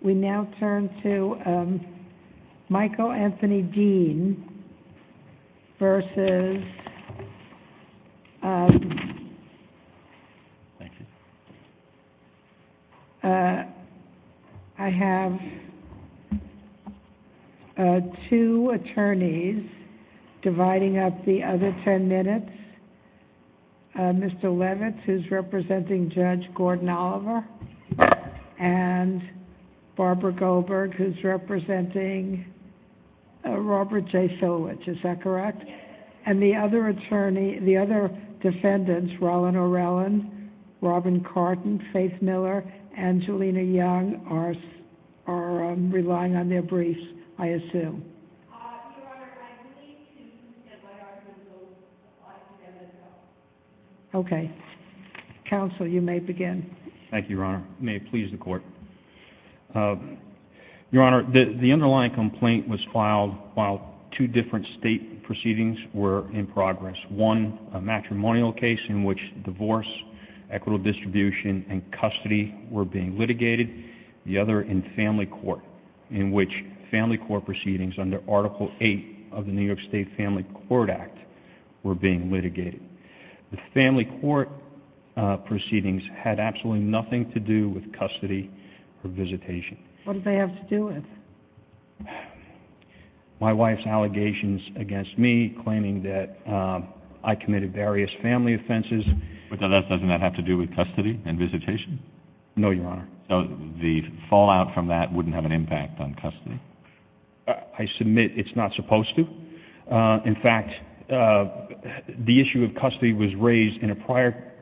We now turn to Michael Anthony Deem v... I have two attorneys dividing up the other ten minutes. Mr. Levitz, who's representing Judge Gordon-Oliver and Barbara Goldberg, who's representing Robert J. Silvich, is that correct? And the other attorneys, the other defendants, Roland O'Rellyn, Robin Carton, Faith Miller, Angelina Young, are relying on their briefs, I believe. And I'm going to turn it over to you, Mr. Deem, to give you the briefs. Thank you, Your Honor. May it please the Court. Your Honor, the underlying complaint was filed while two different state proceedings were in progress. One, a matrimonial case in which divorce, equitable distribution, and custody were being litigated. The other, in family court proceedings under Article VIII of the New York State Family Court Act, were being litigated. The family court proceedings had absolutely nothing to do with custody or visitation. What did they have to do with? My wife's allegations against me, claiming that I committed various family offenses. But doesn't that have to do with custody and visitation? No, Your Honor. So the fallout from that wouldn't have an issue with custody. I submit it's not supposed to. In fact, the issue of custody was raised in a prior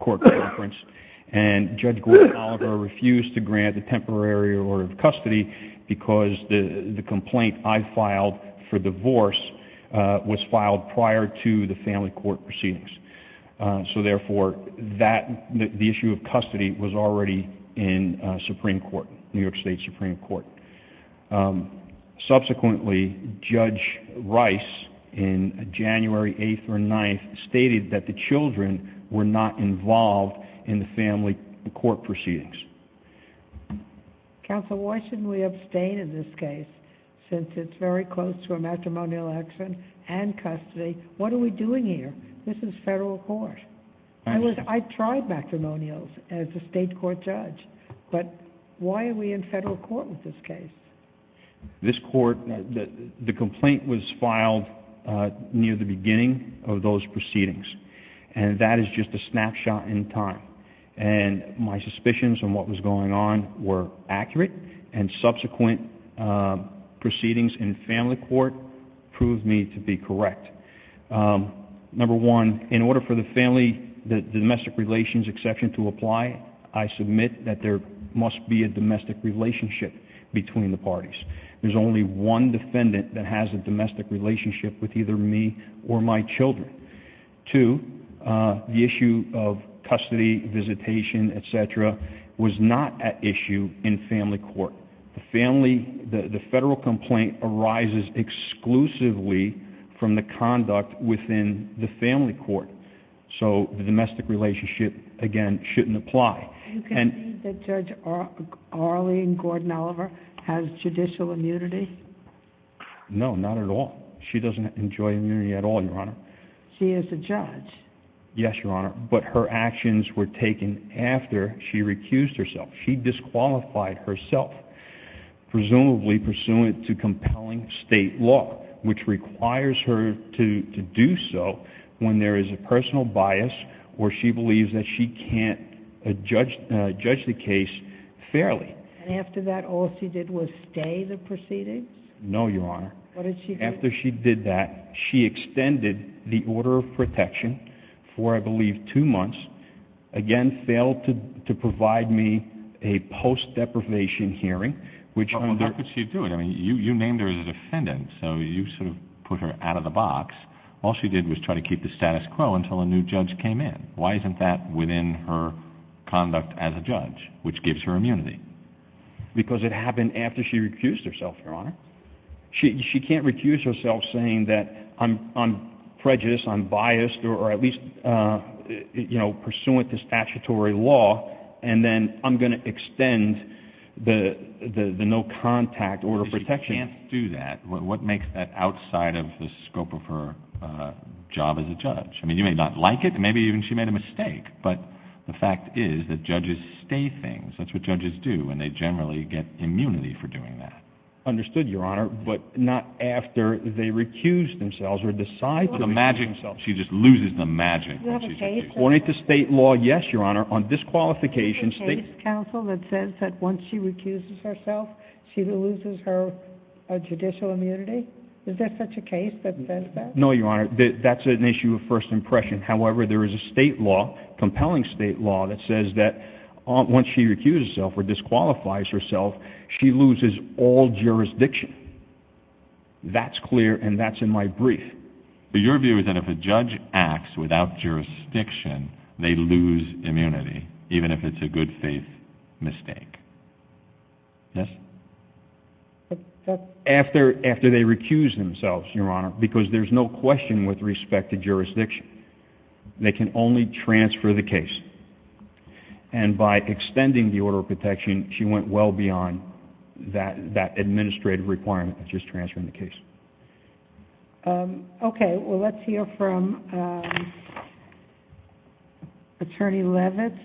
court conference, and Judge Gordon-Oliver refused to grant a temporary order of custody because the complaint I filed for divorce was filed prior to the family court proceedings. Therefore, the issue of custody was already in New York State Supreme Court. Subsequently, Judge Rice, in January 8th or 9th, stated that the children were not involved in the family court proceedings. Counsel, why shouldn't we abstain in this case, since it's very close to a matrimonial election and custody? What are we doing here? This is federal court. I tried matrimonials as a state court judge, but why are we in federal court with this case? This court, the complaint was filed near the beginning of those proceedings, and that is just a snapshot in time. My suspicions on what was going on were accurate, and subsequent proceedings in family court proved me to be correct. Number one, in order for the domestic relations exception to apply, I submit that there must be a domestic relationship between the parties. There's only one defendant that has a domestic relationship with either me or my children. Two, the issue of custody, visitation, et cetera, was not at issue in family court. The federal complaint arises exclusively from the conduct within the family court, so the domestic relationship, again, shouldn't apply. You can't say that Judge Arlene Gordon-Oliver has judicial immunity? No, not at all. She doesn't enjoy immunity at all, Your Honor. She is a judge. Yes, Your Honor, but her actions were taken after she recused herself. She disqualified herself, presumably pursuant to compelling state law, which requires her to do so when there is a personal bias where she believes that she can't judge the case fairly. After that, all she did was stay the proceedings? No, Your Honor. What did she do? After she did that, she extended the order of protection for, I believe, two months, again, failed to provide me a post-deprivation hearing, which— How could she do it? You named her as a defendant, so you sort of put her out of the box. All she did was try to keep the status quo until a new judge came in. Why isn't that within her conduct as a judge, which gives her immunity? Because it happened after she recused herself, Your Honor. She can't recuse herself saying that I'm prejudiced, I'm biased, or at least, you know, pursuant to statutory law, and then I'm going to extend the no-contact order of protection. If she can't do that, what makes that outside of the scope of her job as a judge? I mean, you may not like it. Maybe even she made a mistake, but the fact is that judges stay things. That's what judges do, and they generally get immunity for doing that. Understood, Your Honor, but not after they recuse themselves or decide to recuse themselves. She just loses the magic. Do you have a case, Your Honor? According to state law, yes, Your Honor. On disqualification, state— Is there a case, counsel, that says that once she recuses herself, she loses her judicial immunity? Is there such a case that says that? No, Your Honor. That's an issue of first impression. However, there is a state law, compelling state law, that says that once she recuses herself or disqualifies herself, she loses all jurisdiction. That's clear, and that's in my brief. Your view is that if a judge acts without jurisdiction, they lose immunity, even if it's a good faith mistake. Yes? After they recuse themselves, Your Honor, because there's no question with respect to jurisdiction. They can only transfer the case. And by extending the order of protection, she went well beyond that administrative requirement of just transferring the case. Okay. Well, let's hear from Attorney Levitz,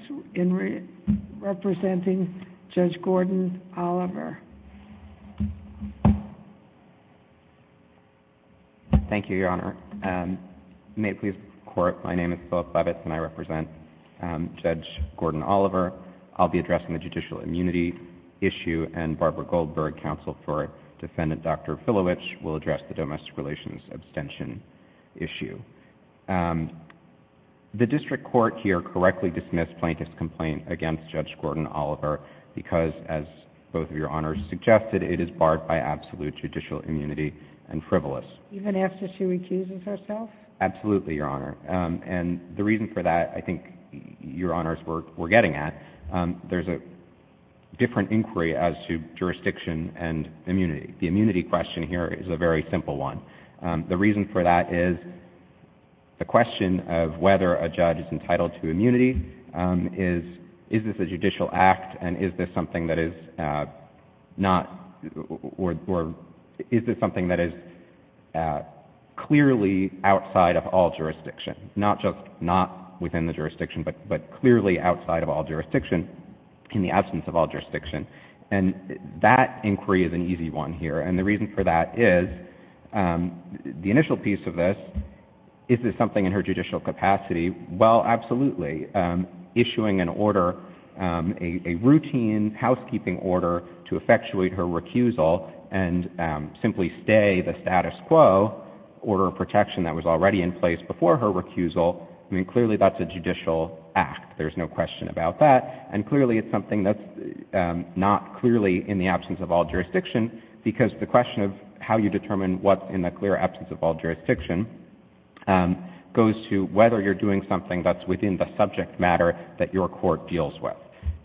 representing Judge Gordon Oliver. Thank you, Your Honor. May it please the Court, my name is Philip Levitz, and I represent Judge Gordon Oliver. I'll be addressing the judicial immunity issue, and Barbara Goldberg, counsel for Defendant Dr. Filowich, will address the domestic relations abstention issue. The district court here correctly dismissed plaintiff's complaint against Judge Gordon Oliver because, as both of Your Honors suggested, it is barred by absolute judicial immunity and frivolous. Even after she recuses herself? Absolutely, Your Honor. And the reason for that, I think Your Honors were getting at, there's a different inquiry as to jurisdiction and immunity. The immunity question here is a very simple one. The reason for that is the question of whether a judge is entitled to immunity, is this a judicial act, and is this something that is not, or is this something that is clearly outside of all jurisdiction? Not just not within the jurisdiction, but clearly outside of all jurisdiction, in the absence of all jurisdiction. And that inquiry is an easy one here, and the reason for that is, the initial piece of this, is this something in her judicial capacity? Well, absolutely. Issuing an order, a routine housekeeping order to effectuate her recusal and simply stay the status quo, order of protection that was already in place before her recusal, I mean, clearly that's a judicial act. There's no question about that. And clearly it's something that's not clearly in the absence of all jurisdiction because the question of how you determine what's in the clear absence of all jurisdiction goes to whether you're doing something that's within the subject matter that your court deals with.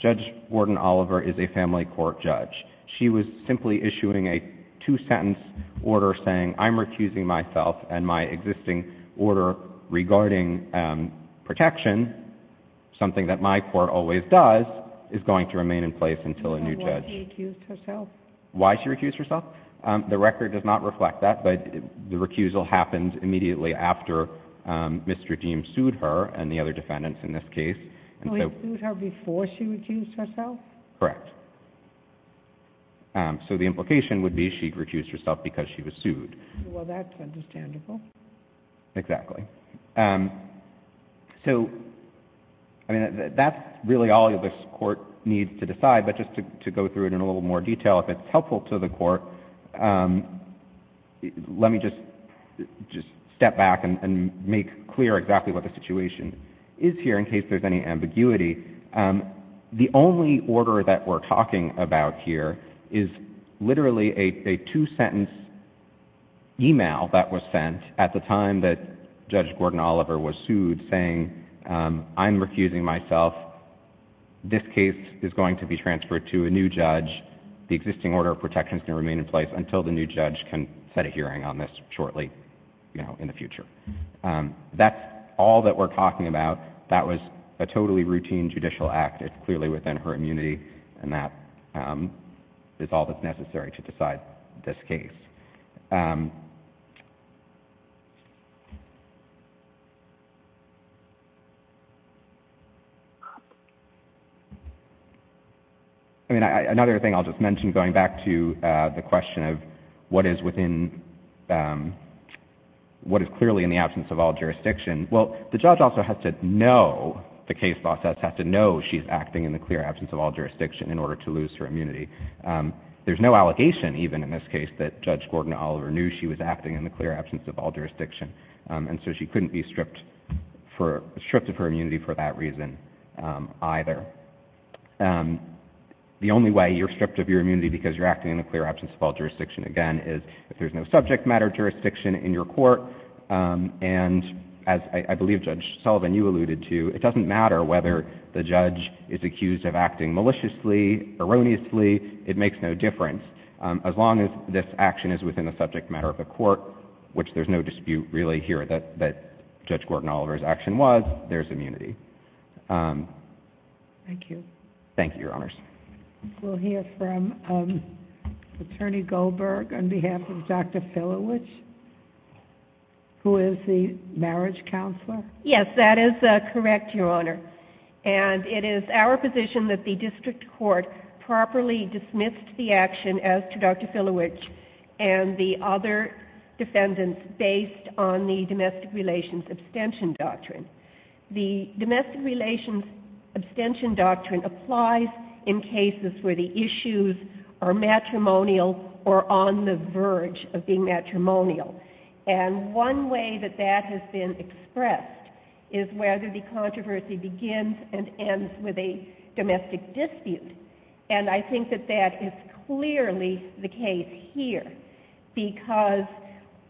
Judge Warden Oliver is a family court judge. She was simply issuing a two-sentence order saying, I'm refusing myself and my existing order regarding protection, something that my court always does, is going to remain in place until a new judge... And why she recused herself? Why she recused herself? The record does not reflect that, but the recusal happened immediately after Mr. Deem sued her and the other defendants in this case. So he sued her before she recused herself? Correct. So the implication would be she recused herself because she was sued. Well, that's understandable. Exactly. So, I mean, that's really all this court needs to decide, but just to go through it in a little more detail, if it's helpful to the court, let me just step back and make clear exactly what the situation is here and in case there's any ambiguity. The only order that we're talking about here is literally a two-sentence email that was sent at the time that Judge Warden Oliver was sued saying, I'm refusing myself. This case is going to be transferred to a new judge. The existing order of protection is going to remain in place until the new judge can set a hearing on this shortly, you know, in the future. That's all that we're talking about. That was a totally routine judicial act. It's clearly within her immunity and that is all that's necessary to decide this case. I mean, another thing I'll just mention going back to the question of what is clearly in the absence of all jurisdiction, well, the judge also has to know the case process, has to know she's acting in the clear absence of all jurisdiction in order to lose her immunity. There's no allegation even in this case that Judge Gordon Oliver knew she was acting in the clear absence of all jurisdiction, and so she couldn't be stripped of her immunity for that reason either. The only way you're acting in the clear absence of all jurisdiction, again, is if there's no subject matter jurisdiction in your court, and as I believe Judge Sullivan, you alluded to, it doesn't matter whether the judge is accused of acting maliciously, erroneously, it makes no difference. As long as this action is within the subject matter of the court, which there's no dispute really here that Judge Gordon Oliver's action was, there's immunity. Thank you. Thank you, Your Honors. We'll hear from Attorney Goldberg on behalf of Dr. Filowich, who is the marriage counselor. Yes, that is correct, Your Honor, and it is our position that the district court properly dismissed the action as to Dr. Filowich and the other defendants based on the domestic relations abstention doctrine. The domestic relations abstention doctrine applies in cases where the issues are matrimonial or on the verge of being matrimonial, and one way that that has been expressed is whether the controversy begins and ends with a domestic dispute, and I think that that is clearly the case here, because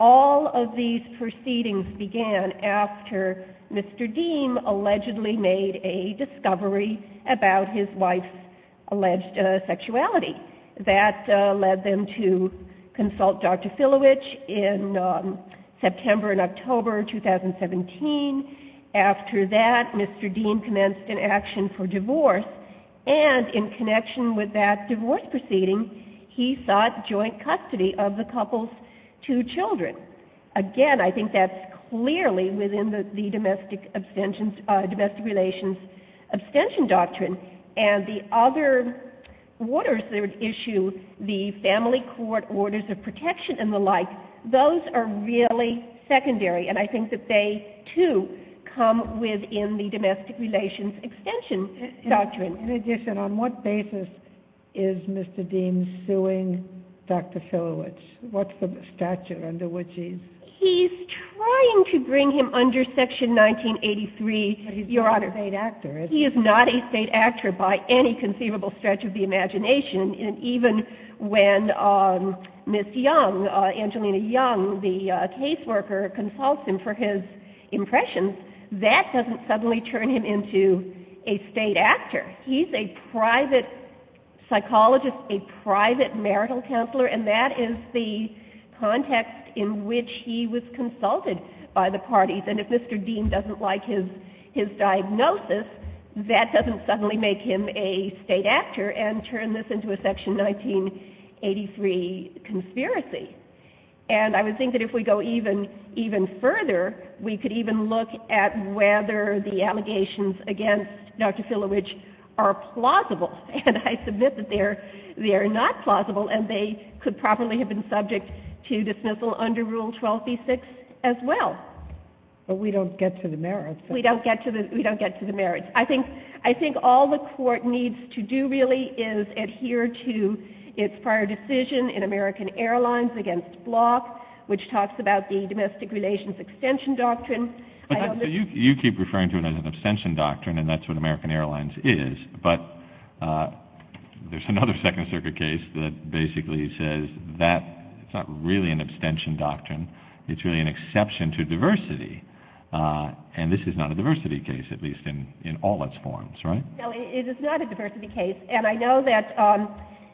all of these proceedings begin with a divorce, and after Mr. Deem allegedly made a discovery about his wife's alleged sexuality, that led them to consult Dr. Filowich in September and October 2017. After that, Mr. Deem commenced an action for divorce, and in connection with that divorce proceeding, he sought joint custody of the couple's two children. Again, I think that's clearly within the domestic relations abstention doctrine, and the other orders that are at issue, the family court orders of protection and the like, those are really secondary, and I think that they, too, come within the domestic relations extension doctrine. In addition, on what basis is Mr. Deem suing Dr. Filowich? What's the stature under which he's... He's trying to bring him under Section 1983, Your Honor. But he's not a state actor, is he? He is not a state actor by any conceivable stretch of the imagination, and even when Ms. Young, Angelina Young, the caseworker, consults him for his impressions, that doesn't suddenly turn him into a state actor. He's a private psychologist, a private marital counselor, and that is the context in which he was consulted by the parties, and if Mr. Deem doesn't like his diagnosis, that doesn't suddenly make him a state actor and turn this into a Section 1983 conspiracy. And I would think that if we go even further, we could even look at whether the allegations against Dr. Filowich are plausible, and I submit that they are not plausible, and they could probably have been subject to dismissal under Rule 12b-6 as well. But we don't get to the merits. We don't get to the merits. I think all the Court needs to do, really, is adhere to its prior decision in American Airlines against Block, which talks about the domestic relations extension doctrine. You keep referring to it as an abstention doctrine, and that's what American Airlines is, but there's another Second Circuit case that basically says that's not really an abstention doctrine. It's really an exception to diversity, and this is not a diversity case, at least in all its forms, right? No, it is not a diversity case, and I know that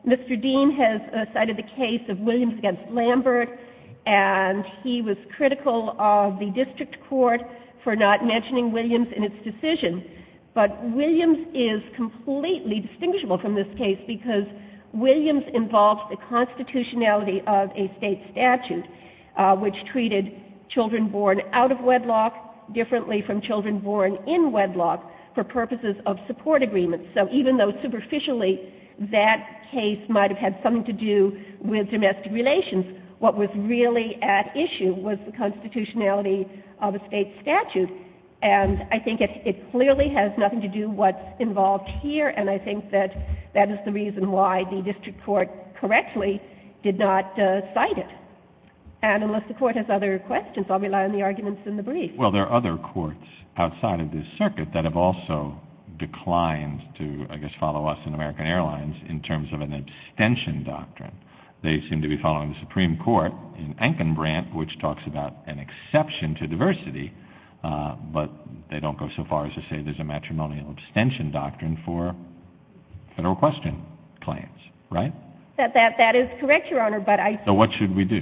Mr. Deem has cited the case of Williams against Lambert, and he was critical of the district court for not mentioning Williams in its decision. But Williams is completely distinguishable from this case because Williams involves the constitutionality of a state statute, which treated children born out of wedlock differently from children born in wedlock for purposes of support agreements. So even though superficially that case might have had something to do with domestic relations, what was really at issue was the constitutionality of a state statute. And I think it clearly has nothing to do with what's involved here, and I think that that is the reason why the district court correctly did not cite it. And unless the Court has other questions, I'll rely on the arguments in the brief. Well, there are other courts outside of this circuit that have also declined to, I guess, follow us in American Airlines in terms of an abstention doctrine. They seem to be following the Supreme Court in Ankenbrandt, which talks about an exception to diversity, but they don't go so far as to say there's a matrimonial abstention doctrine for federal question claims, right? That is correct, Your Honor, but I... So what should we do?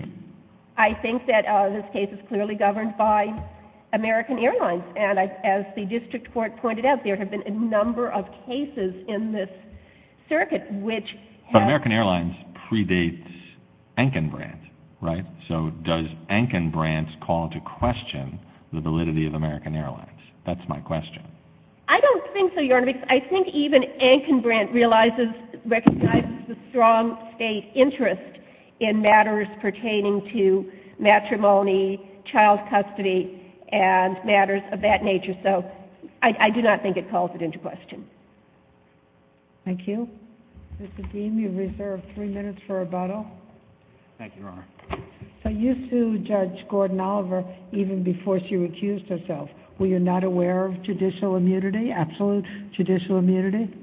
I think that this case is clearly governed by American Airlines, and as the district court pointed out, there have been a number of cases in this circuit which have... But American Airlines predates Ankenbrandt, right? So does Ankenbrandt call to question the validity of American Airlines? That's my question. I don't think so, Your Honor, because I think even Ankenbrandt recognizes the strong state to matrimony, child custody, and matters of that nature. So I do not think it calls it into question. Thank you. Mr. Deem, you have reserved three minutes for rebuttal. Thank you, Your Honor. So you sued Judge Gordon-Oliver even before she recused herself. Were you not aware of judicial immunity, absolute judicial immunity?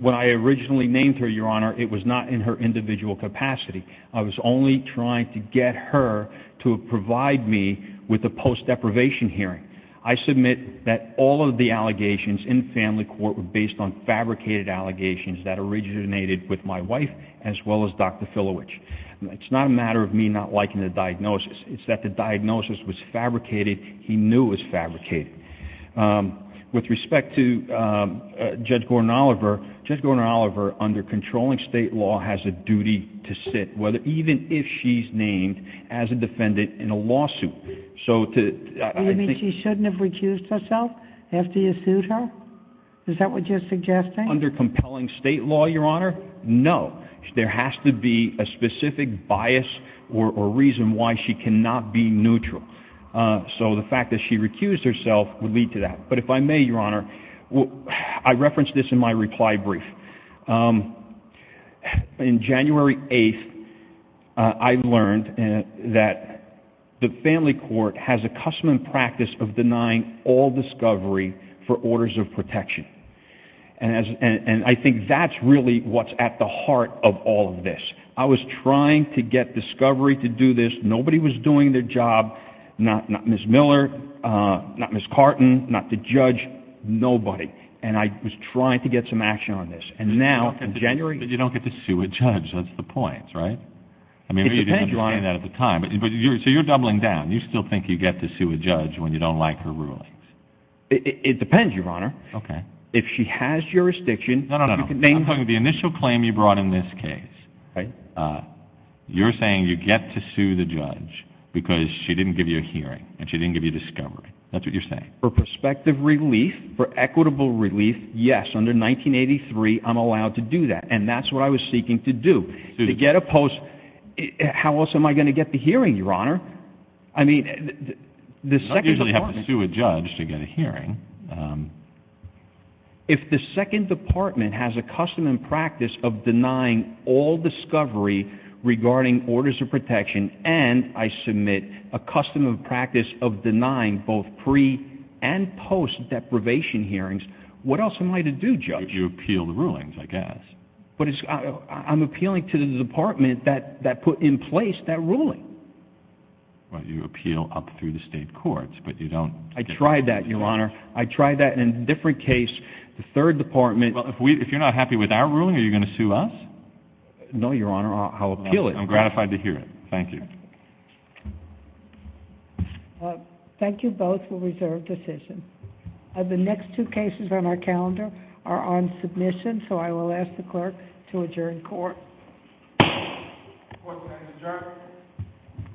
When I originally named her, Your Honor, it was not in her individual capacity. I was only trying to get her to provide me with a post-deprivation hearing. I submit that all of the allegations in family court were based on fabricated allegations that originated with my wife as well as Dr. Filowich. It's not a matter of me not liking the diagnosis. It's that the diagnosis was fabricated. He knew it was fabricated. With respect to Judge Gordon-Oliver, Judge Gordon-Oliver, under controlling state law, has a duty to sit, even if she's named as a defendant in a lawsuit. You mean she shouldn't have recused herself after you sued her? Is that what you're suggesting? Under compelling state law, Your Honor, no. There has to be a specific bias or reason why she cannot be neutral. So the fact that she recused herself would lead to that. But if I may, Your Honor, I referenced this in my reply brief. In January 8th, I learned that the family court has a custom and practice of denying all discovery for orders of protection. And I think that's really what's at the heart of all of this. I was trying to get discovery to do this. Nobody was doing their job. Not Ms. Miller, not Ms. Carton, not the judge. Nobody. And I was trying to get some action on this. And now, in January... But you don't get to sue a judge. That's the point, right? It depends, Your Honor. I mean, maybe you didn't understand that at the time. So you're doubling down. You still think you get to sue a judge when you don't like her rulings? It depends, Your Honor. Okay. If she has jurisdiction... No, no, no. I'm talking about the initial claim you brought in this case. Right. You're saying you get to sue the judge because she didn't give you a hearing and she didn't give you discovery. That's what you're saying. For prospective relief, for equitable relief, yes. Under 1983, I'm allowed to do that. And that's what I was seeking to do. To get a post... How else am I going to get the hearing, Your Honor? I mean, the second department... If the second department has a custom and practice of denying all discovery regarding orders of protection and I submit a custom and practice of denying both pre- and post-deprivation hearings, what else am I to do, Judge? You appeal the rulings, I guess. But I'm appealing to the department that put in place that ruling. Well, you appeal up through the state courts, but you don't... I tried that, Your Honor. I tried that in a different case. The third department... Well, if you're not happy with our ruling, are you going to sue us? No, Your Honor. I'll appeal it. I'm gratified to hear it. Thank you. Thank you both for reserved decisions. The next two cases on our calendar are on submission, so I will ask the clerk to adjourn court. Court is adjourned.